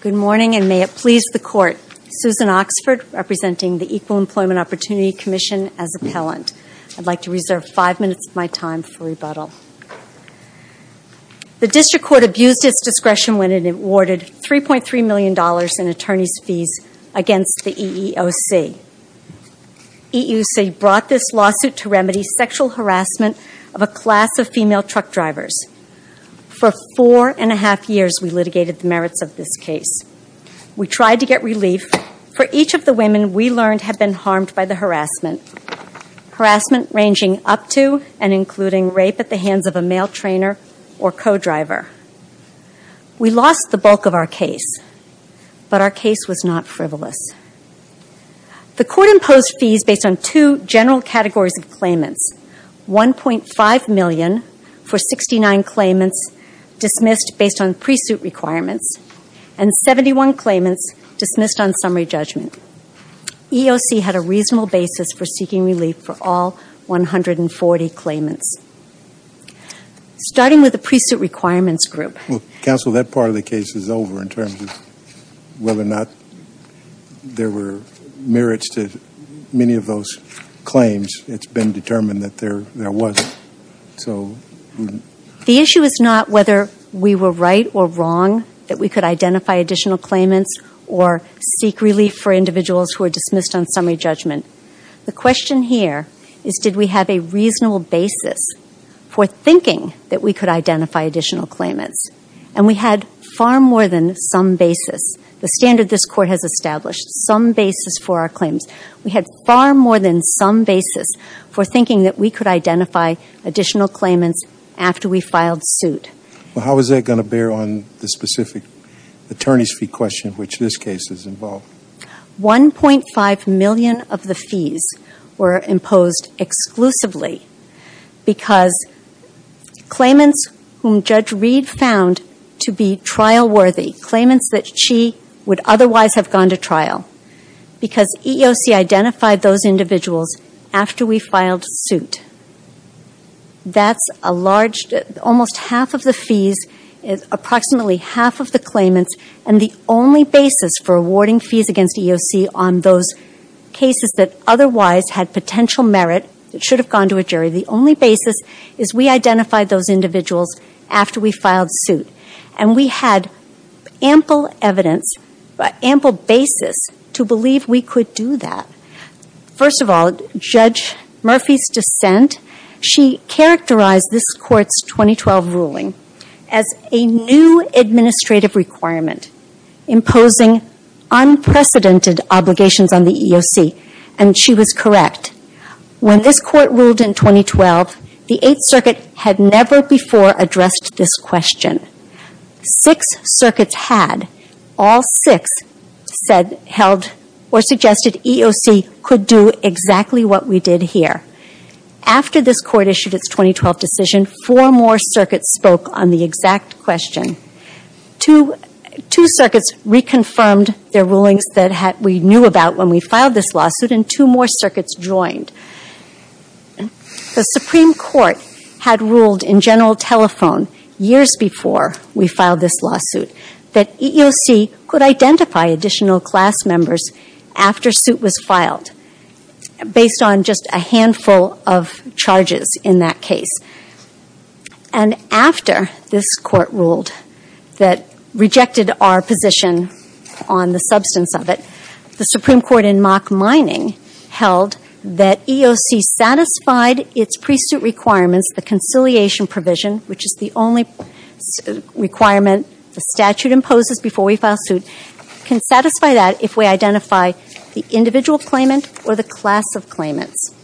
Good morning, and may it please the Court, Susan Oxford, representing the Equal Employment Opportunity Commission, as appellant. I'd like to reserve five minutes of my time for rebuttal. The District Court abused its discretion when it awarded $3.3 million in attorneys' fees against the EEOC. EEOC brought this lawsuit to remedy sexual harassment of a class of female truck drivers. For four and a half years, we litigated the merits of this case. We tried to get relief. For each of the women, we learned, had been harmed by the harassment. Harassment ranging up to and including rape at the hands of a male trainer or co-driver. We lost the bulk of our case, but our case was not frivolous. The Court imposed fees based on two general categories of claimants. $1.5 million for 69 claimants dismissed based on pre-suit requirements, and 71 claimants dismissed on summary judgment. EEOC had a reasonable basis for seeking relief for all 140 claimants. Starting with the pre-suit requirements group. Counsel, that part of the case is over in terms of whether or not there were merits to many of those claims. It's been determined that there wasn't. The issue is not whether we were right or wrong, that we could identify additional claimants, or seek relief for individuals who are dismissed on summary judgment. The question here is, did we have a reasonable basis for thinking that we could identify additional claimants? And we had far more than some basis. The standard this Court has established, some basis for our claims. We had far more than some basis for thinking that we could identify additional claimants after we filed suit. Well, how is that going to bear on the specific attorney's fee question of which this case is involved? 1.5 million of the fees were imposed exclusively because claimants whom Judge Reed found to be trial-worthy, claimants that she would otherwise have gone to trial, because EEOC identified those individuals after we filed suit. That's a large, almost half of the fees, approximately half of the claimants, and the only basis for awarding fees against EEOC on those cases that otherwise had potential merit, that should have gone to a jury, the only basis is we identified those individuals after we filed suit. And we had ample evidence, ample basis, to believe we could do that. First of all, Judge Murphy's dissent, she characterized this Court's 2012 ruling as a new administrative requirement, imposing unprecedented obligations on the EEOC, and she was correct. When this Court ruled in 2012, the Eighth Circuit had never before addressed this question. Six circuits had. All six said, held, or suggested EEOC could do exactly what we did here. After this Court issued its 2012 decision, four more circuits spoke on the exact question. Two circuits reconfirmed their rulings that we knew about when we filed this lawsuit, and two more circuits joined. The Supreme Court had ruled in general telephone years before we filed this lawsuit that EEOC could identify additional class members after suit was filed, based on just a handful of charges in that case. And after this Court ruled that rejected our position on the substance of it, the Supreme Court in mock mining held that EEOC satisfied its pre-suit requirements, the conciliation provision, which is the only requirement the statute imposes before we file suit, can satisfy that if we identify the individual claimant or the class of claimants.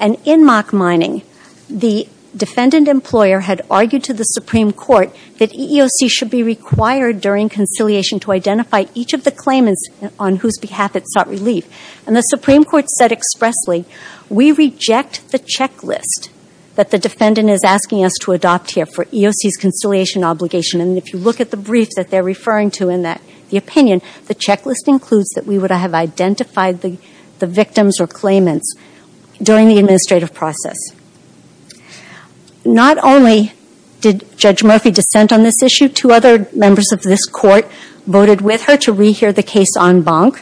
And in mock mining, the defendant employer had argued to the Supreme Court that EEOC should be required during conciliation to identify each of the claimants on whose behalf it sought relief. And the Supreme Court said expressly, we reject the checklist that the defendant is asking us to adopt here for EEOC's conciliation obligation. And if you look at the brief that they're referring to in the opinion, the checklist includes that we would have identified the victims or claimants during the administrative process. Not only did Judge Murphy dissent on this issue, two other members of this Court voted with her to rehear the case en banc.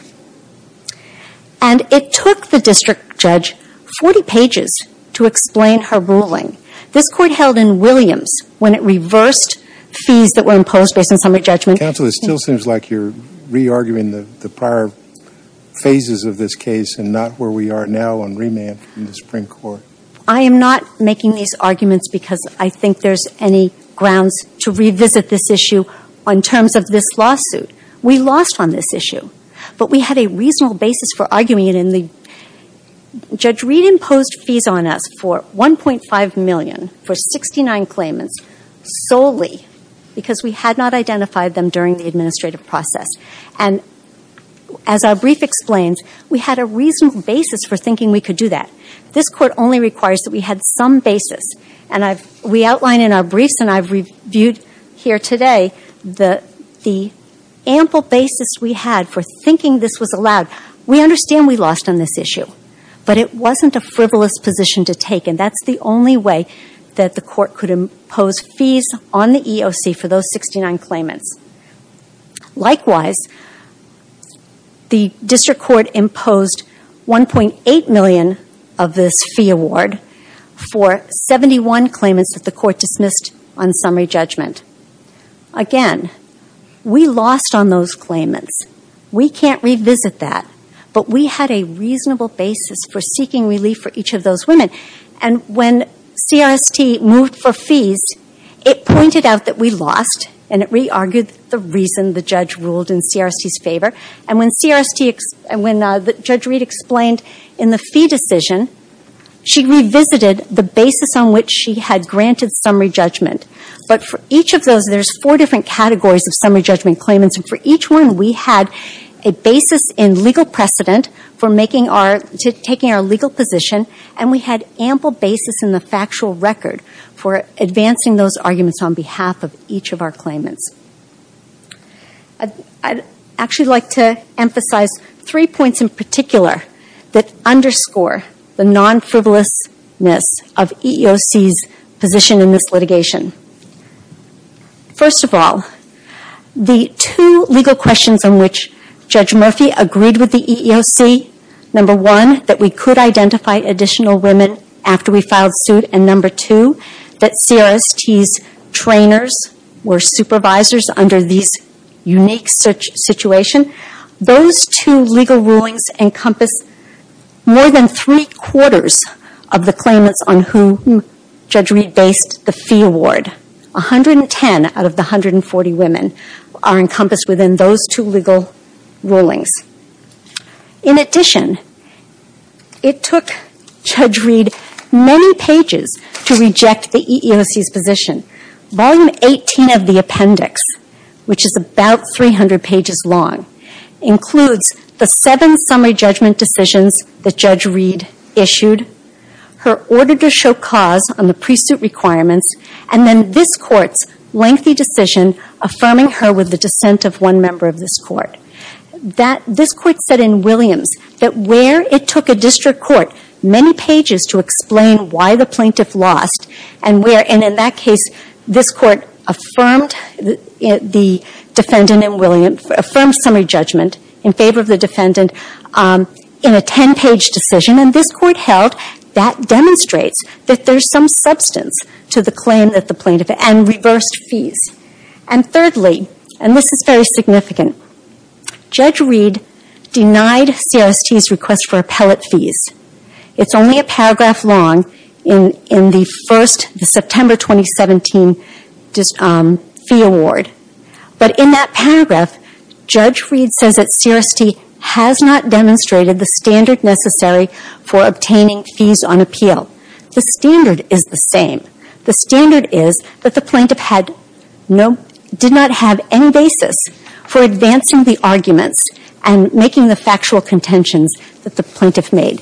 And it took the district judge 40 pages to explain her ruling. This Court held in Williams when it reversed fees that were imposed based on summary judgment. Counsel, it still seems like you're re-arguing the prior phases of this case and not where we are now on remand from the Supreme Court. I am not making these arguments because I think there's any grounds to revisit this issue on terms of this lawsuit. We lost on this issue. But we had a reasonable basis for arguing it. Judge Reed imposed fees on us for $1.5 million for 69 claimants solely because we had not identified them during the administrative process. And as our brief explains, we had a reasonable basis for thinking we could do that. This Court only requires that we had some basis. And we outline in our briefs, and I've reviewed here today, the ample basis we had for thinking this was allowed. We understand we lost on this issue. But it wasn't a frivolous position to take, and that's the only way that the Court could impose fees on the EOC for those 69 claimants. Likewise, the District Court imposed $1.8 million of this fee award for 71 claimants that the Court dismissed on summary judgment. Again, we lost on those claimants. We can't revisit that. But we had a reasonable basis for seeking relief for each of those women. And when CRST moved for fees, it pointed out that we lost and it re-argued the reason the judge ruled in CRST's favor. And when Judge Reed explained in the fee decision, she revisited the basis on which she had granted summary judgment. But for each of those, there's four different categories of summary judgment claimants. And for each one, we had a basis in legal precedent for taking our legal position, and we had ample basis in the factual record for advancing those arguments on behalf of each of our claimants. I'd actually like to emphasize three points in particular that underscore the non-frivolousness of EEOC's position in this litigation. First of all, the two legal questions on which Judge Murphy agreed with the EEOC, number one, that we could identify additional women after we filed suit, and number two, that CRST's trainers were supervisors under these unique situation, those two legal rulings encompass more than three-quarters of the claimants on whom Judge Reed based the fee award. 110 out of the 140 women are encompassed within those two legal rulings. In addition, it took Judge Reed many pages to reject the EEOC's position. Volume 18 of the appendix, which is about 300 pages long, includes the seven summary judgment decisions that Judge Reed issued, her order to show cause on the pre-suit requirements, and then this Court's lengthy decision affirming her with the dissent of one member of this Court. This Court said in Williams that where it took a district court many pages to explain why the plaintiff lost, and where, in that case, this Court affirmed the defendant in Williams, affirmed summary judgment in favor of the defendant in a 10-page decision, and this Court held that demonstrates that there's some substance to the claim that the plaintiff, and reversed fees. And thirdly, and this is very significant, Judge Reed denied CRST's request for appellate fees. It's only a paragraph long in the September 2017 fee award, but in that paragraph Judge Reed says that CRST has not demonstrated the standard necessary for obtaining fees on appeal. The standard is the same. The standard is that the plaintiff had no, did not have any basis for advancing the arguments and making the factual contentions that the plaintiff made.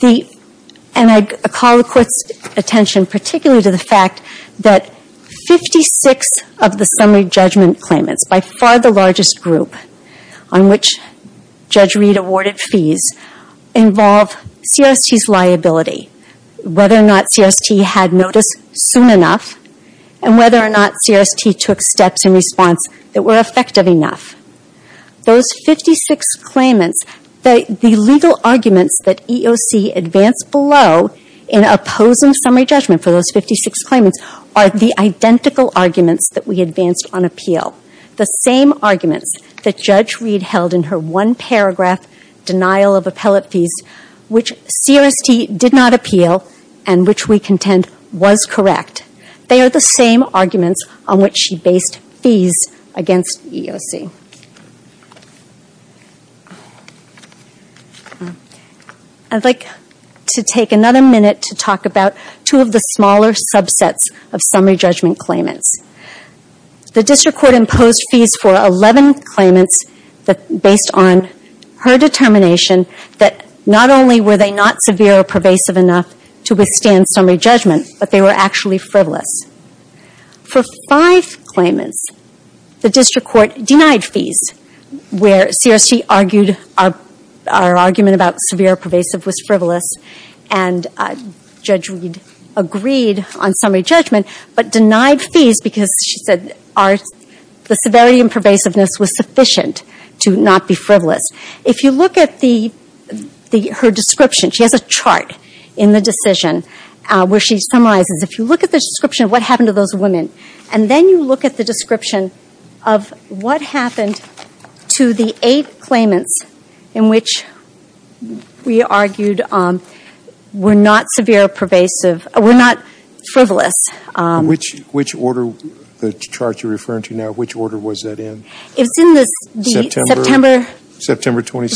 The, and I call the Court's attention particularly to the fact that 56 of the summary judgment claimants, by far the largest group on which Judge Reed awarded fees, involve CRST's liability. Whether or not CRST had notice soon enough, and whether or not CRST took steps in response that were effective enough. Those 56 claimants, the legal arguments that EOC advanced below in opposing summary judgment for those 56 claimants are the identical arguments that we advanced on appeal. The same arguments that Judge Reed held in her one paragraph denial of appellate fees, which CRST did not appeal and which we contend was correct. They are the same arguments on which she based fees against EOC. I'd like to take another minute to talk about two of the smaller subsets of summary judgment claimants. The District Court imposed fees for 11 claimants based on her determination that not only were they not severe or pervasive enough to withstand summary judgment, but they were actually frivolous. For five claimants, the District Court denied fees where CRST argued our, our argument about severe or pervasive was frivolous and Judge Reed agreed on summary judgment, but denied fees because she said our, the severity and pervasiveness was sufficient to not be frivolous. If you look at the, her description, she has a chart in the decision where she summarizes. If you look at the description of what happened to those women, and then you look at the description of what happened to the eight claimants in which we argued were not severe or pervasive, were not frivolous. Which, which order, the chart you're referring to now, which order was that in? It was in the September. September. September 2017.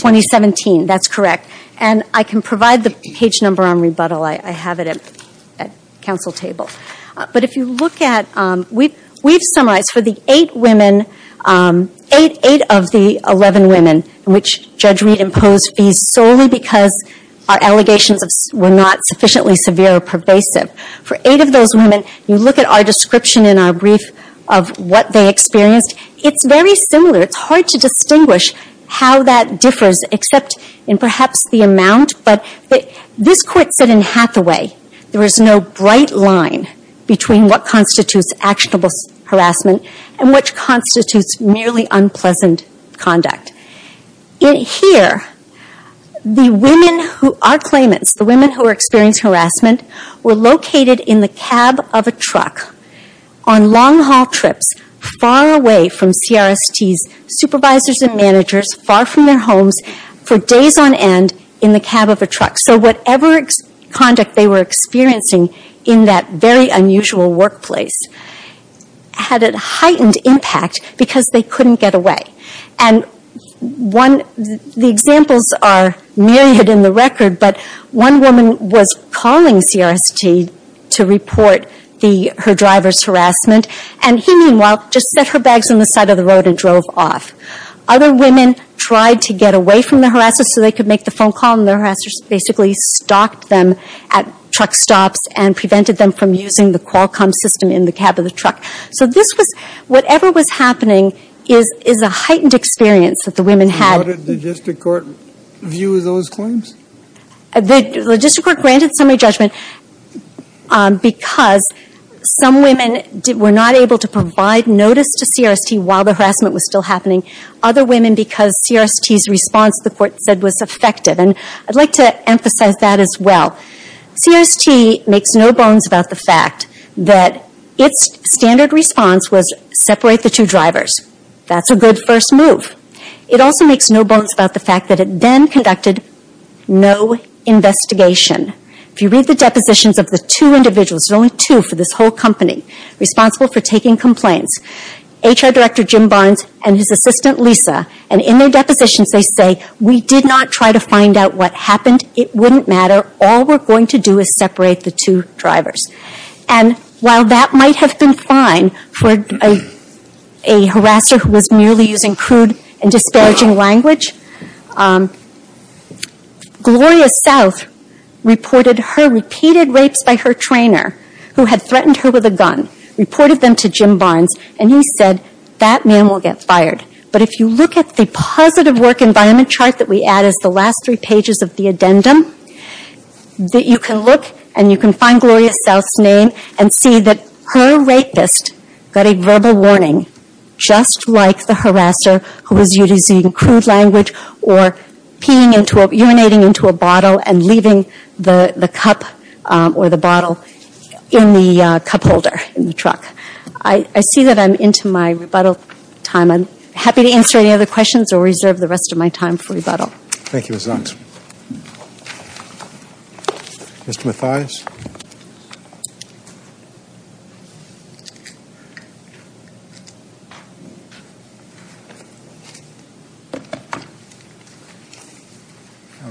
2017, that's correct. And I can provide the page number on rebuttal. I have it at council table. But if you look at, we've summarized for the eight women, eight of the 11 women in which Judge Reed imposed fees solely because our allegations of, were not sufficiently severe or pervasive. For eight of those women, you look at our description in our brief of what they experienced. It's very similar. It's hard to distinguish how that differs except in perhaps the amount. But this court said in Hathaway, there is no bright line between what constitutes actionable harassment and which constitutes merely unpleasant conduct. In here, the women who, our claimants, the women who were experiencing harassment, were located in the cab of a truck on long haul trips far away from CRSTs, supervisors and managers, far from their homes, for days on end in the cab of a truck. So whatever conduct they were experiencing in that very unusual workplace had a heightened impact because they couldn't get away. And the examples are myriad in the record, but one woman was calling CRST to report her driver's harassment. And he, meanwhile, just set her bags on the side of the road and drove off. Other women tried to get away from the harassers so they could make the phone call and the harassers basically stalked them at truck stops and prevented them from using the Qualcomm system in the cab of the truck. So this was, whatever was happening is a heightened experience that the women had. And what did the logistic court view of those claims? The logistic court granted summary judgment because some women were not able to provide notice to CRST while the harassment was still happening. Other women because CRST's response, the court said, was effective. And I'd like to emphasize that as well. CRST makes no bones about the fact that its standard response was, separate the two drivers. That's a good first move. It also makes no bones about the fact that it then conducted no investigation. If you read the depositions of the two individuals, there are only two for this whole company, responsible for taking complaints. HR Director Jim Barnes and his assistant Lisa. And in their depositions they say, we did not try to find out what happened. It wouldn't matter. All we're going to do is separate the two drivers. And while that might have been fine for a harasser who was merely using crude and disparaging language, Gloria South reported her repeated rapes by her trainer who had threatened her with a gun, reported them to Jim Barnes, and he said, that man will get fired. But if you look at the positive work environment chart that we add as the last three pages of the addendum, you can look and you can find Gloria South's name and see that her rapist got a verbal warning, just like the harasser who was using crude language or urinating into a bottle and leaving the cup or the bottle in the cup holder in the truck. I see that I'm into my rebuttal time. I'm happy to answer any other questions or reserve the rest of my time for rebuttal. Thank you, Ms. Zunz. Mr. Mathias.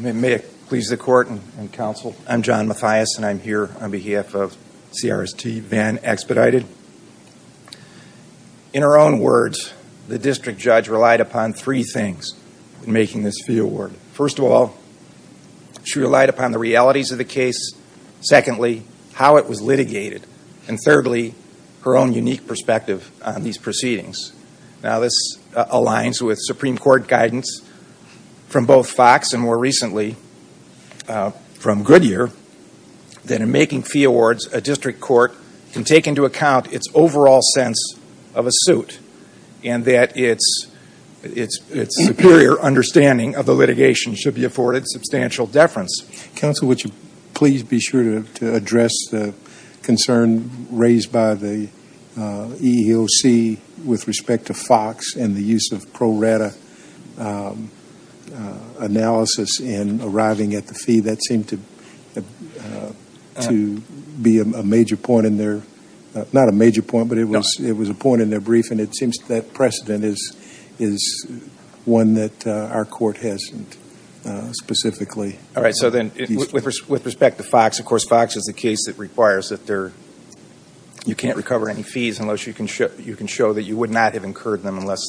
May it please the court and counsel, I'm John Mathias and I'm here on behalf of CRST, Van Expedited. In her own words, the district judge relied upon three things in making this fee award. First of all, she relied upon the realities of the case. Secondly, how it was litigated. And thirdly, her own unique perspective on these proceedings. Now, this aligns with Supreme Court guidance from both Fox and more recently from Goodyear that in making fee awards, a district court can take into account its overall sense of a suit and that its superior understanding of the litigation should be afforded substantial deference. Counsel, would you please be sure to address the concern raised by the EEOC with respect to Fox and the use of pro rata analysis in arriving at the fee. That seemed to be a major point in their, not a major point, but it was a point in their briefing. It seems that precedent is one that our court hasn't specifically. All right. So then with respect to Fox, of course, Fox is the case that requires that you can't recover any fees unless you can show that you would not have incurred them unless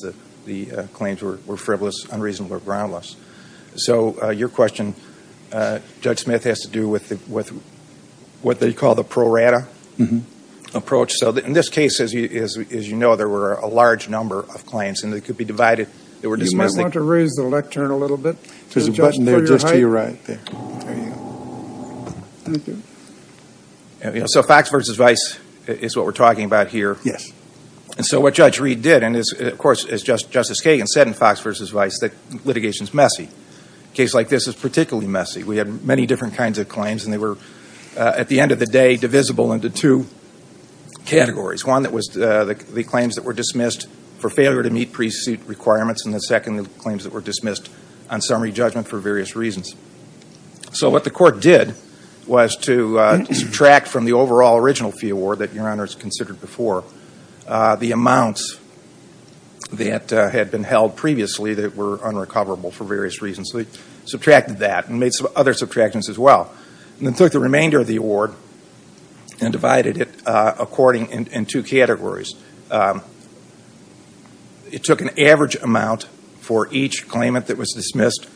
the claims were frivolous, unreasonable, or groundless. So your question, Judge Smith, has to do with what they call the pro rata approach. So in this case, as you know, there were a large number of claims and they could be divided. You might want to raise the lectern a little bit. There's a button there just to your right. So Fox v. Vice is what we're talking about here. Yes. And so what Judge Reed did, and, of course, as Justice Kagan said in Fox v. Vice, that litigation is messy. A case like this is particularly messy. We had many different kinds of claims and they were, at the end of the day, divisible into two categories, one that was the claims that were dismissed for failure to meet pre-suit requirements and the second claims that were dismissed on summary judgment for various reasons. So what the court did was to subtract from the overall original fee award that Your Honor has considered before the amounts that had been held previously that were unrecoverable for various reasons. So they subtracted that and made some other subtractions as well and then took the remainder of the award and divided it according in two categories. It took an average amount for each claimant that was dismissed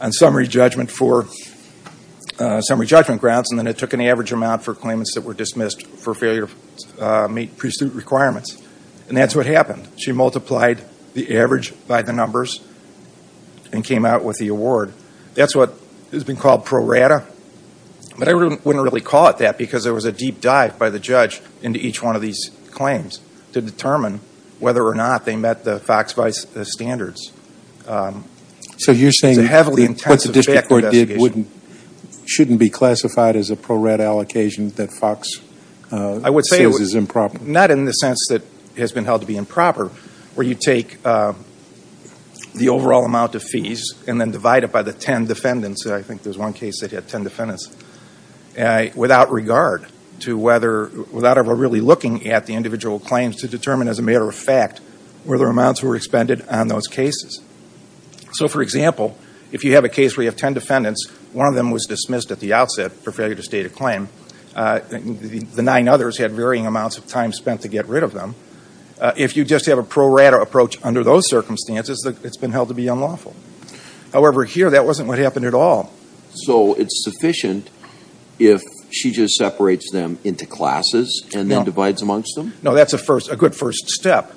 on summary judgment grounds and then it took an average amount for claimants that were dismissed for failure to meet pre-suit requirements. And that's what happened. She multiplied the average by the numbers and came out with the award. That's what has been called pro rata. But I wouldn't really call it that because there was a deep dive by the judge into each one of these claims to determine whether or not they met the FOX standards. So you're saying what the district court did shouldn't be classified as a pro rata allocation that FOX says is improper? Not in the sense that it has been held to be improper where you take the overall amount of fees and then divide it by the ten defendants. I think there's one case that had ten defendants. Without regard to whether, without ever really looking at the individual claims to determine as a matter of fact whether amounts were expended on those cases. So for example, if you have a case where you have ten defendants, one of them was dismissed at the outset for failure to state a claim. The nine others had varying amounts of time spent to get rid of them. If you just have a pro rata approach under those circumstances, it's been held to be unlawful. However, here that wasn't what happened at all. So it's sufficient if she just separates them into classes and then divides amongst them? No, that's a good first step.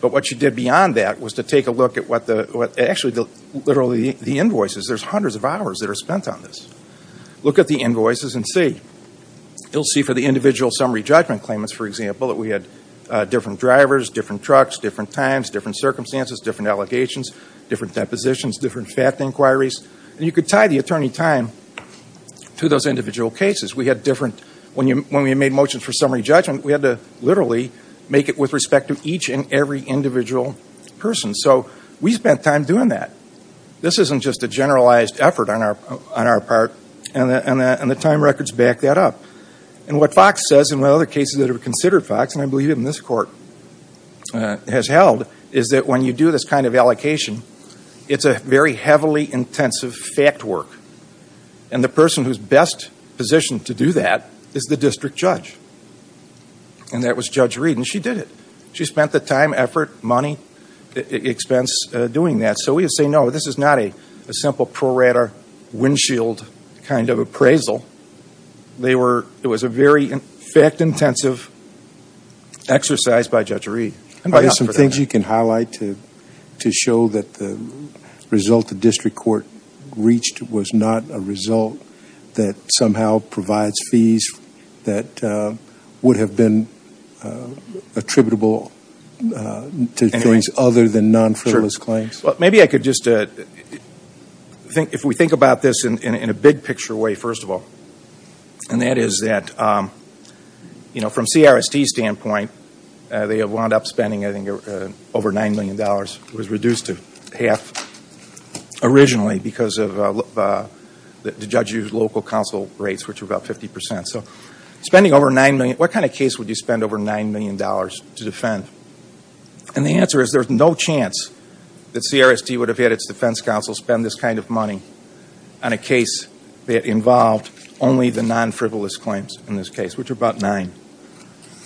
But what she did beyond that was to take a look at what the, actually literally the invoices. There's hundreds of hours that are spent on this. Look at the invoices and see. You'll see for the individual summary judgment claimants, for example, that we had different drivers, different trucks, different times, different circumstances, different allegations, different depositions, different fact inquiries. And you could tie the attorney time to those individual cases. We had different, when we made motions for summary judgment, we had to literally make it with respect to each and every individual person. So we spent time doing that. This isn't just a generalized effort on our part. And the time records back that up. And what Fox says, and what other cases that are considered Fox, and I believe even this court has held, is that when you do this kind of allocation, it's a very heavily intensive fact work. And the person who's best positioned to do that is the district judge. And that was Judge Reed, and she did it. She spent the time, effort, money, expense doing that. So we would say, no, this is not a simple pro rata windshield kind of appraisal. They were, it was a very fact intensive exercise by Judge Reed. There's some things you can highlight to show that the result the district court reached was not a result that somehow provides fees that would have been attributable to things other than non-federalist claims. Maybe I could just, if we think about this in a big picture way, first of all, and that is that, you know, from CRST's standpoint, they have wound up spending, I think, over $9 million. It was reduced to half originally because of the judge's local counsel rates, which were about 50%. So spending over $9 million, what kind of case would you spend over $9 million to defend? And the answer is there's no chance that CRST would have had its defense counsel spend this kind of money on a case that involved only the non-frivolous claims in this case, which are about nine.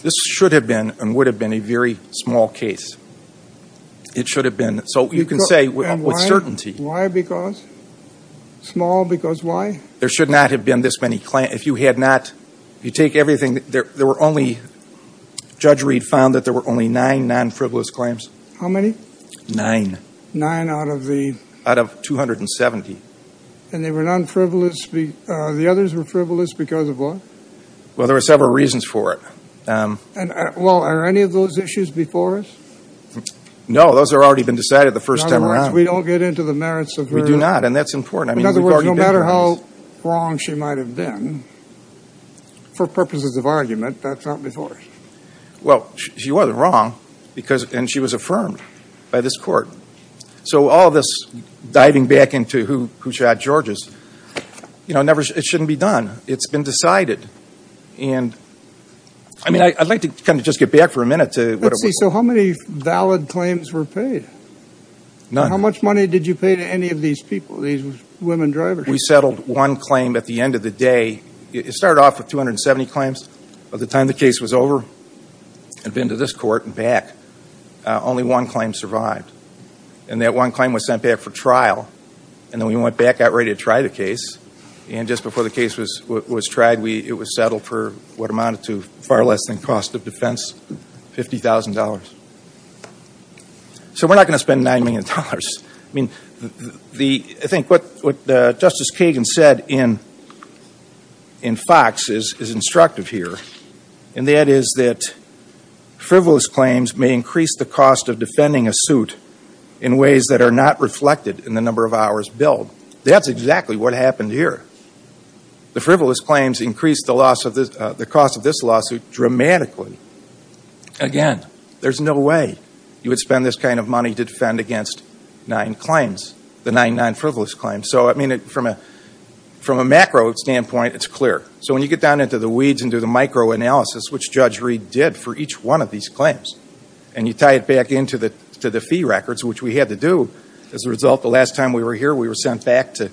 This should have been and would have been a very small case. It should have been. So you can say with certainty. Why because? Small because why? There should not have been this many claims. If you had not, if you take everything, there were only, Judge Reed found that there were only nine non-frivolous claims. How many? Nine. Nine out of the? And they were non-frivolous. The others were frivolous because of what? Well, there were several reasons for it. Well, are any of those issues before us? No, those have already been decided the first time around. In other words, we don't get into the merits of her? We do not, and that's important. In other words, no matter how wrong she might have been, for purposes of argument, that's not before us. Well, she wasn't wrong, and she was affirmed by this court. So all this diving back into who shot Georges, you know, it shouldn't be done. It's been decided. And I mean, I'd like to kind of just get back for a minute to what it was. Let's see. So how many valid claims were paid? None. How much money did you pay to any of these people, these women drivers? We settled one claim at the end of the day. It started off with 270 claims. By the time the case was over, had been to this court and back, only one claim survived. And that one claim was sent back for trial, and then we went back, got ready to try the case. And just before the case was tried, it was settled for what amounted to far less than cost of defense, $50,000. So we're not going to spend $9 million. I mean, I think what Justice Kagan said in Fox is instructive here, and that is that frivolous claims may increase the cost of defending a suit in ways that are not reflected in the number of hours billed. That's exactly what happened here. The frivolous claims increased the cost of this lawsuit dramatically. Again, there's no way you would spend this kind of money to defend against nine claims, the nine non-frivolous claims. So, I mean, from a macro standpoint, it's clear. So when you get down into the weeds and do the micro analysis, which Judge Reed did for each one of these claims, and you tie it back into the fee records, which we had to do, as a result, the last time we were here, we were sent back to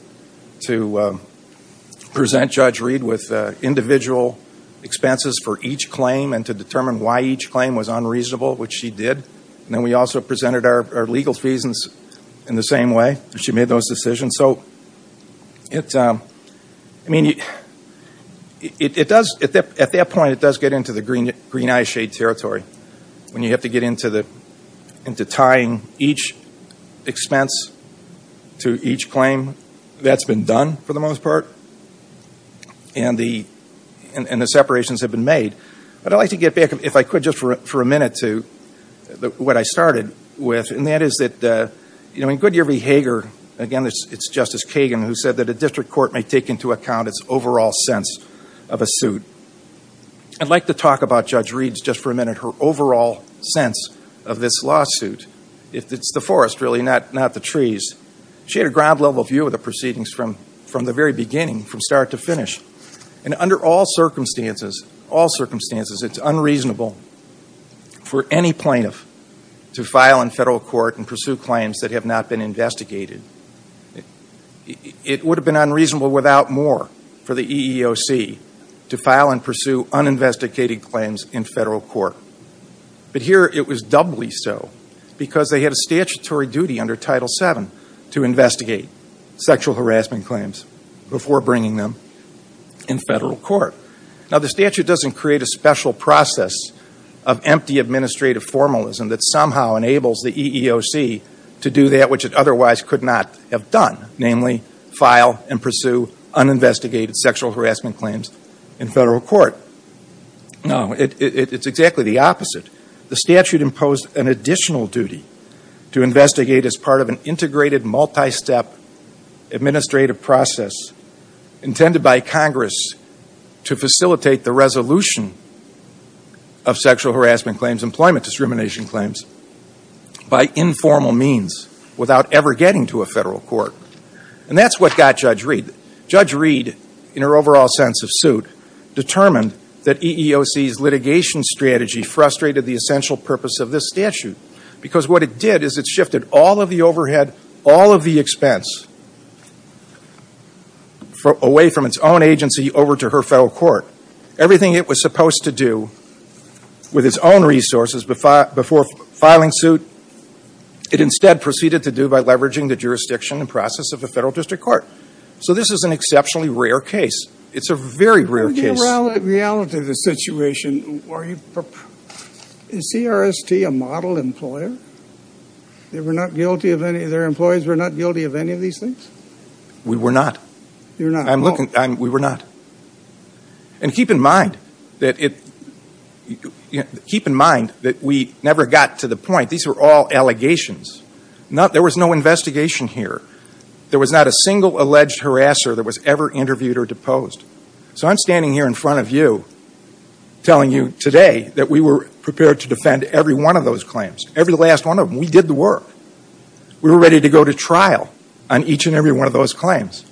present Judge Reed with individual expenses for each claim and to determine why each claim was unreasonable, which she did. And then we also presented our legal fees in the same way. She made those decisions. And so, I mean, at that point, it does get into the green-eye shade territory when you have to get into tying each expense to each claim. That's been done, for the most part, and the separations have been made. But I'd like to get back, if I could, just for a minute to what I started with, and that is that in Goodyear v. Hager, again, it's Justice Kagan who said that a district court may take into account its overall sense of a suit. I'd like to talk about Judge Reed's, just for a minute, her overall sense of this lawsuit. It's the forest, really, not the trees. She had a ground-level view of the proceedings from the very beginning, from start to finish. And under all circumstances, it's unreasonable for any plaintiff to file in federal court and pursue claims that have not been investigated. It would have been unreasonable without more for the EEOC to file and pursue uninvestigated claims in federal court. But here, it was doubly so because they had a statutory duty under Title VII to investigate sexual harassment claims before bringing them in federal court. Now, the statute doesn't create a special process of empty administrative formalism that somehow enables the EEOC to do that which it otherwise could not have done, namely file and pursue uninvestigated sexual harassment claims in federal court. No, it's exactly the opposite. The statute imposed an additional duty to investigate as part of an integrated, multi-step administrative process intended by Congress to facilitate the resolution of sexual harassment claims, employment discrimination claims, by informal means without ever getting to a federal court. And that's what got Judge Reed. Judge Reed, in her overall sense of suit, determined that EEOC's litigation strategy frustrated the essential purpose of this statute because what it did is it shifted all of the overhead, all of the expense, away from its own agency over to her federal court. Everything it was supposed to do with its own resources before filing suit, it instead proceeded to do by leveraging the jurisdiction and process of a federal district court. So this is an exceptionally rare case. It's a very rare case. In the reality of the situation, is CRST a model employer? Their employees were not guilty of any of these things? We were not. You're not? We were not. And keep in mind that we never got to the point. These were all allegations. There was no investigation here. There was not a single alleged harasser that was ever interviewed or deposed. So I'm standing here in front of you telling you today that we were prepared to defend every one of those claims, every last one of them. We did the work. We were ready to go to trial on each and every one of those claims.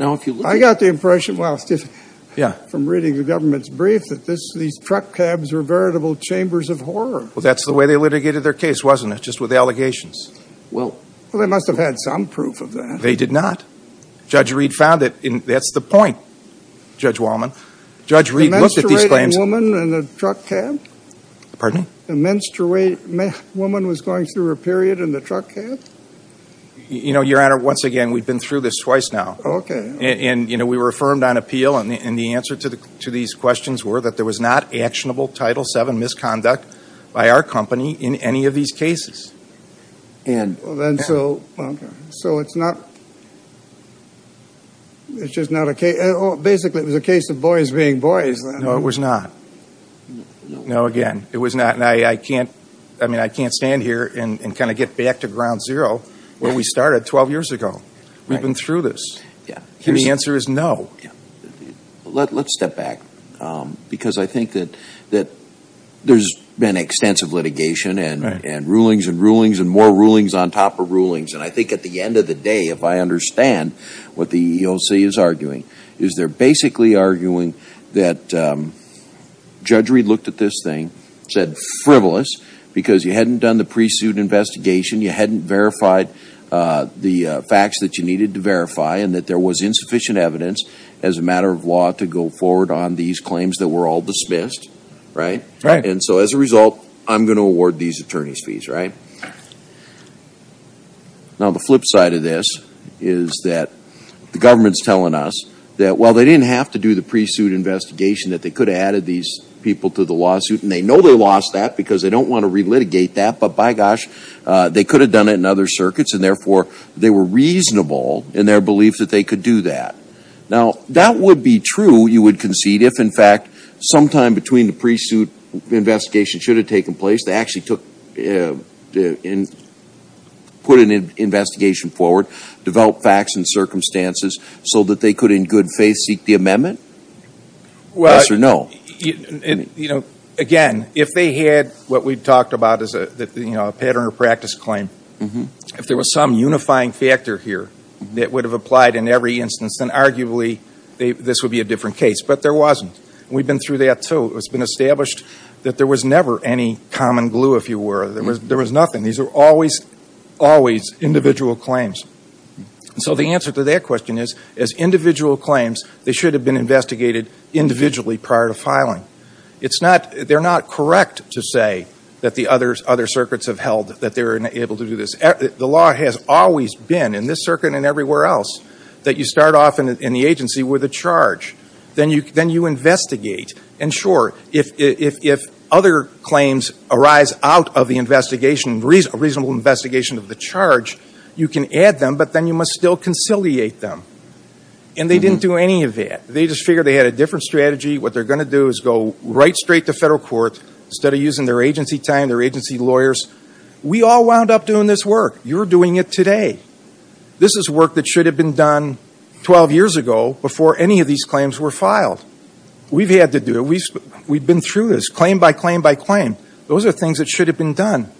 I got the impression from reading the government's brief that these truck cabs were veritable chambers of horror. Well, that's the way they litigated their case, wasn't it, just with allegations? Well, they must have had some proof of that. They did not. Judge Reed found it, and that's the point, Judge Wallman. Judge Reed looked at these claims. The menstruating woman in the truck cab? Pardon? The menstruating woman was going through her period in the truck cab? You know, Your Honor, once again, we've been through this twice now. Okay. And, you know, we were affirmed on appeal, and the answer to these questions were that there was not actionable Title VII misconduct by our company in any of these cases. And so it's not just not a case. Basically, it was a case of boys being boys. No, it was not. No, again, it was not. And I can't stand here and kind of get back to ground zero where we started 12 years ago. We've been through this. And the answer is no. Let's step back, because I think that there's been extensive litigation and rulings and rulings and more rulings on top of rulings. And I think at the end of the day, if I understand what the EEOC is arguing, is they're basically arguing that Judge Reed looked at this thing, said frivolous, because you hadn't done the pre-suit investigation, you hadn't verified the facts that you needed to verify, and that there was insufficient evidence as a matter of law to go forward on these claims that were all dismissed, right? Right. And so as a result, I'm going to award these attorneys fees, right? Now, the flip side of this is that the government's telling us that, well, they didn't have to do the pre-suit investigation, that they could have added these people to the lawsuit, and they know they lost that because they don't want to relitigate that. But, by gosh, they could have done it in other circuits, and, therefore, they were reasonable in their belief that they could do that. Now, that would be true, you would concede, if, in fact, sometime between the pre-suit investigation should have taken place, they actually put an investigation forward, developed facts and circumstances so that they could, in good faith, seek the amendment? Yes or no? Again, if they had what we've talked about as a pattern of practice claim, if there was some unifying factor here that would have applied in every instance, then arguably this would be a different case. But there wasn't. We've been through that, too. It's been established that there was never any common glue, if you were. There was nothing. These were always, always individual claims. So the answer to that question is, as individual claims, they should have been investigated individually prior to filing. They're not correct to say that the other circuits have held that they were able to do this. The law has always been, in this circuit and everywhere else, that you start off in the agency with a charge. Then you investigate. And, sure, if other claims arise out of the investigation, a reasonable investigation of the charge, you can add them, but then you must still conciliate them. And they didn't do any of that. They just figured they had a different strategy. What they're going to do is go right straight to federal court, instead of using their agency time, their agency lawyers. We all wound up doing this work. You're doing it today. This is work that should have been done 12 years ago, before any of these claims were filed. We've had to do it. We've been through this, claim by claim by claim. Those are things that should have been done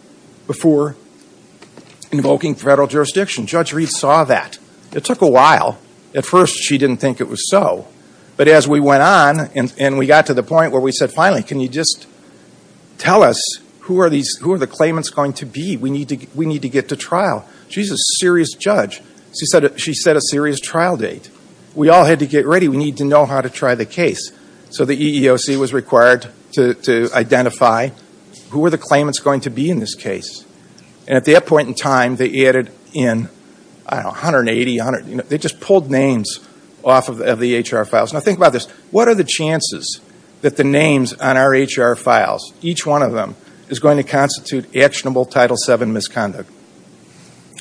before invoking federal jurisdiction. Judge Reed saw that. It took a while. At first, she didn't think it was so. But as we went on and we got to the point where we said, finally, can you just tell us who are the claimants going to be? We need to get to trial. She's a serious judge. She set a serious trial date. We all had to get ready. We need to know how to try the case. So the EEOC was required to identify who were the claimants going to be in this case. And at that point in time, they added in, I don't know, 180. They just pulled names off of the HR files. Now think about this. What are the chances that the names on our HR files, each one of them, is going to constitute actionable Title VII misconduct?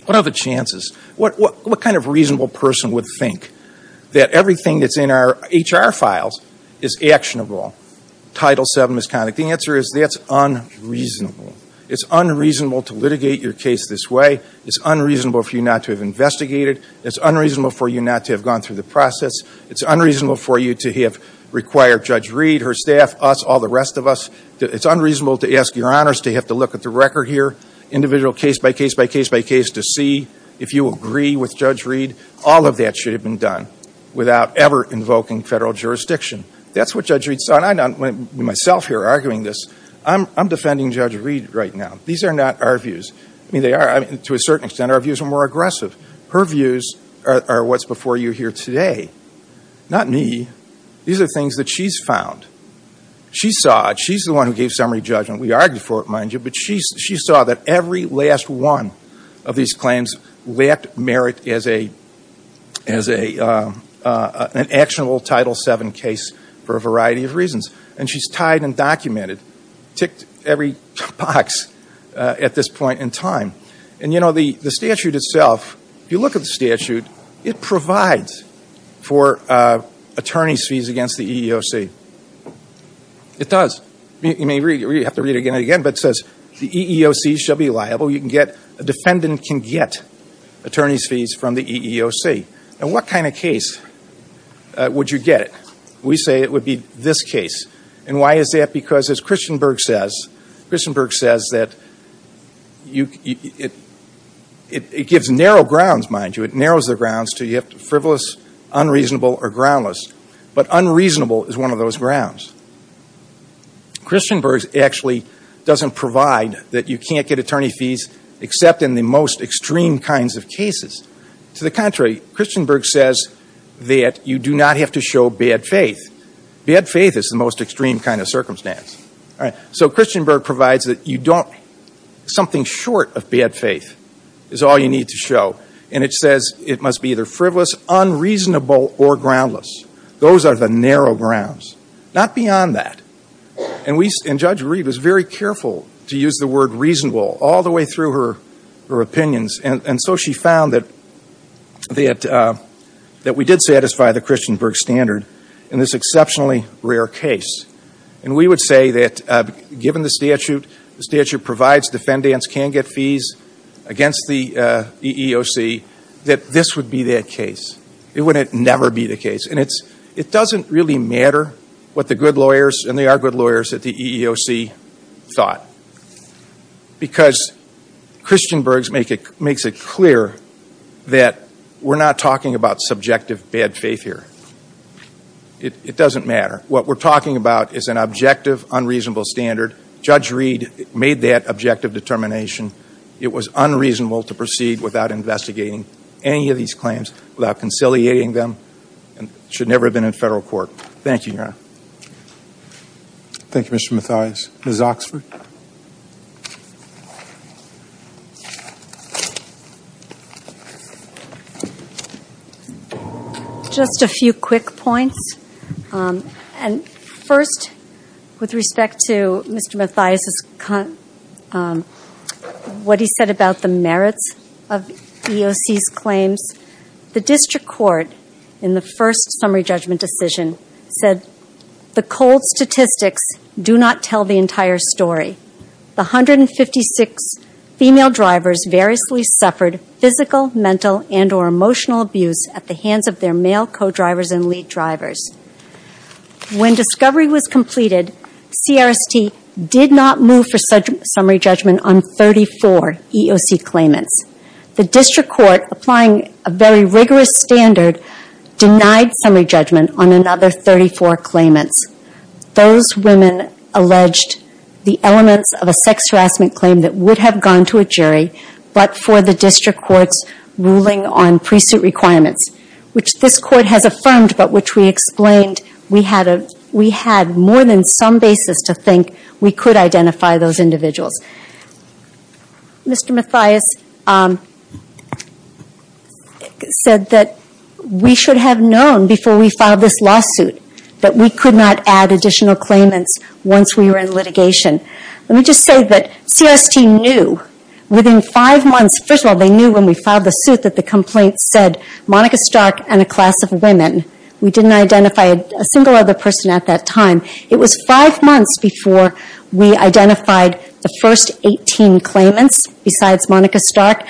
What are the chances? What kind of reasonable person would think that everything that's in our HR files is actionable Title VII misconduct? The answer is that's unreasonable. It's unreasonable to litigate your case this way. It's unreasonable for you not to have investigated. It's unreasonable for you not to have gone through the process. It's unreasonable for you to have required Judge Reed, her staff, us, all the rest of us. It's unreasonable to ask your honors to have to look at the record here, individual case by case by case by case, to see if you agree with Judge Reed. All of that should have been done without ever invoking federal jurisdiction. That's what Judge Reed saw. And I'm not myself here arguing this. I'm defending Judge Reed right now. These are not our views. I mean, they are, to a certain extent, our views are more aggressive. Her views are what's before you here today, not me. These are things that she's found. She saw it. She's the one who gave summary judgment. We argued for it, mind you. But she saw that every last one of these claims lacked merit as an actionable Title VII case for a variety of reasons. And she's tied and documented, ticked every box at this point in time. And, you know, the statute itself, if you look at the statute, it provides for attorney's fees against the EEOC. It does. You may have to read it again and again, but it says the EEOC shall be liable. A defendant can get attorney's fees from the EEOC. Now, what kind of case would you get? We say it would be this case. And why is that? Because, as Christenberg says, Christenberg says that it gives narrow grounds, mind you. It narrows the grounds to frivolous, unreasonable, or groundless. But unreasonable is one of those grounds. Christenberg actually doesn't provide that you can't get attorney's fees except in the most extreme kinds of cases. To the contrary, Christenberg says that you do not have to show bad faith. Bad faith is the most extreme kind of circumstance. So Christenberg provides that you don't – something short of bad faith is all you need to show. And it says it must be either frivolous, unreasonable, or groundless. Those are the narrow grounds. Not beyond that. And Judge Reed was very careful to use the word reasonable all the way through her opinions. And so she found that we did satisfy the Christenberg standard in this exceptionally rare case. And we would say that given the statute, the statute provides defendants can get fees against the EEOC, that this would be that case. It would never be the case. And it doesn't really matter what the good lawyers, and they are good lawyers, at the EEOC thought. Because Christenberg makes it clear that we're not talking about subjective bad faith here. It doesn't matter. What we're talking about is an objective, unreasonable standard. Judge Reed made that objective determination. It was unreasonable to proceed without investigating any of these claims, without conciliating them, and should never have been in federal court. Thank you, Your Honor. Thank you, Mr. Mathias. Ms. Oxford? Just a few quick points. And first, with respect to Mr. Mathias' comment, what he said about the merits of EEOC's claims, the district court, in the first summary judgment decision, said, the cold statistics do not tell the entire story. The 156 female drivers variously suffered physical, mental, and or emotional abuse at the hands of their male co-drivers and lead drivers. When discovery was completed, CRST did not move for summary judgment on 34 EEOC claimants. The district court, applying a very rigorous standard, denied summary judgment on another 34 claimants. Those women alleged the elements of a sex harassment claim that would have gone to a jury, but for the district court's ruling on pre-suit requirements, which this court has affirmed, but which we explained we had more than some basis to think we could identify those individuals. Mr. Mathias said that we should have known before we filed this lawsuit that we could not add additional claimants once we were in litigation. Let me just say that CRST knew, within five months, first of all, they knew when we filed the suit that the complaint said, Monica Stark and a class of women. We didn't identify a single other person at that time. It was five months before we identified the first 18 claimants besides Monica Stark.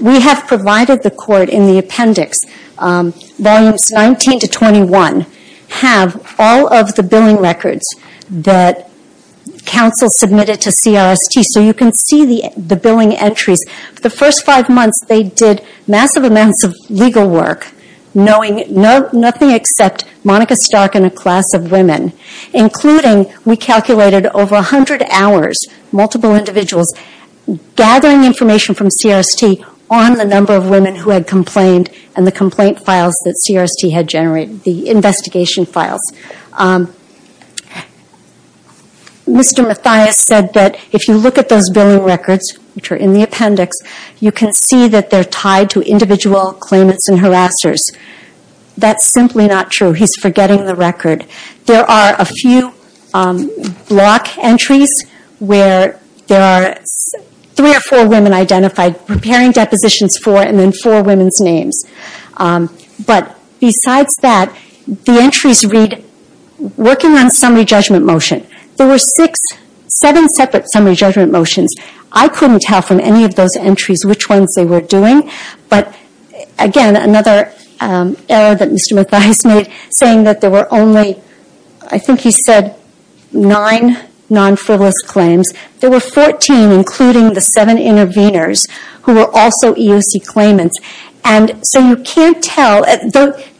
We have provided the court in the appendix, volumes 19 to 21, have all of the billing records that counsel submitted to CRST. You can see the billing entries. For the first five months, they did massive amounts of legal work, knowing nothing except Monica Stark and a class of women, including we calculated over 100 hours, multiple individuals, gathering information from CRST on the number of women who had complained and the complaint files that CRST had generated, the investigation files. Mr. Mathias said that if you look at those billing records, which are in the appendix, you can see that they're tied to individual claimants and harassers. That's simply not true. He's forgetting the record. There are a few block entries where there are three or four women identified, preparing depositions for and then for women's names. But besides that, the entries read, working on summary judgment motion, there were seven separate summary judgment motions. I couldn't tell from any of those entries which ones they were doing. But again, another error that Mr. Mathias made, saying that there were only, I think he said, nine non-frivolous claims. There were 14, including the seven intervenors, who were also EOC claimants. So you can't tell.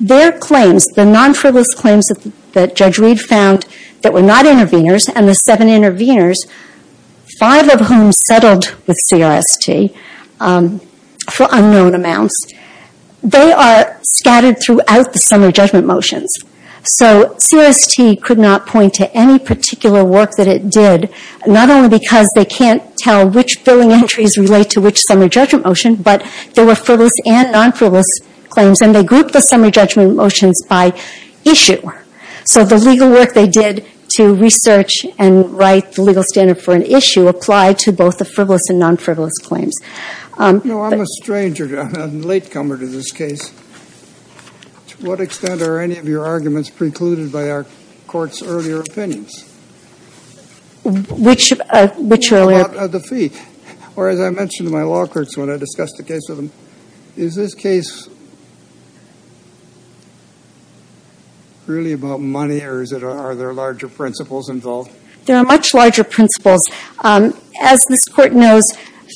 Their claims, the non-frivolous claims that Judge Reed found that were not intervenors and the seven intervenors, five of whom settled with CRST for unknown amounts, they are scattered throughout the summary judgment motions. CRST could not point to any particular work that it did, not only because they can't tell which billing entries relate to which summary judgment motion, but there were frivolous and non-frivolous claims. They grouped the summary judgment motions by issue. So the legal work they did to research and write the legal standard for an issue applied to both the frivolous and non-frivolous claims. No, I'm a stranger. I'm a latecomer to this case. To what extent are any of your arguments precluded by our court's earlier opinions? Which earlier? Or as I mentioned to my law courts when I discussed the case with them, is this case really about money or are there larger principles involved? There are much larger principles. As this court knows,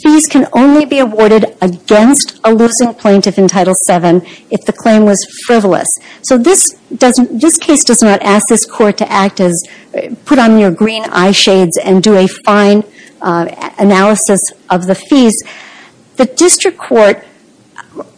fees can only be awarded against a losing plaintiff in Title VII if the claim was frivolous. So this case does not ask this court to act as put on your green eye shades and do a fine analysis of the fees. The district court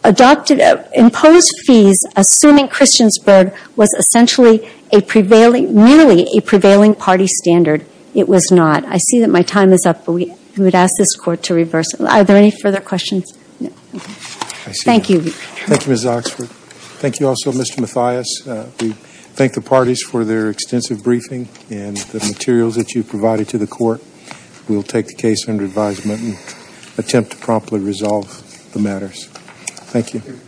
adopted, imposed fees assuming Christiansburg was essentially a prevailing, merely a prevailing party standard. It was not. I see that my time is up, but we would ask this court to reverse it. Are there any further questions? Thank you. Thank you, Ms. Oxford. Thank you also, Mr. Mathias. We'll take the case under advisement and attempt to promptly resolve the matters. Thank you.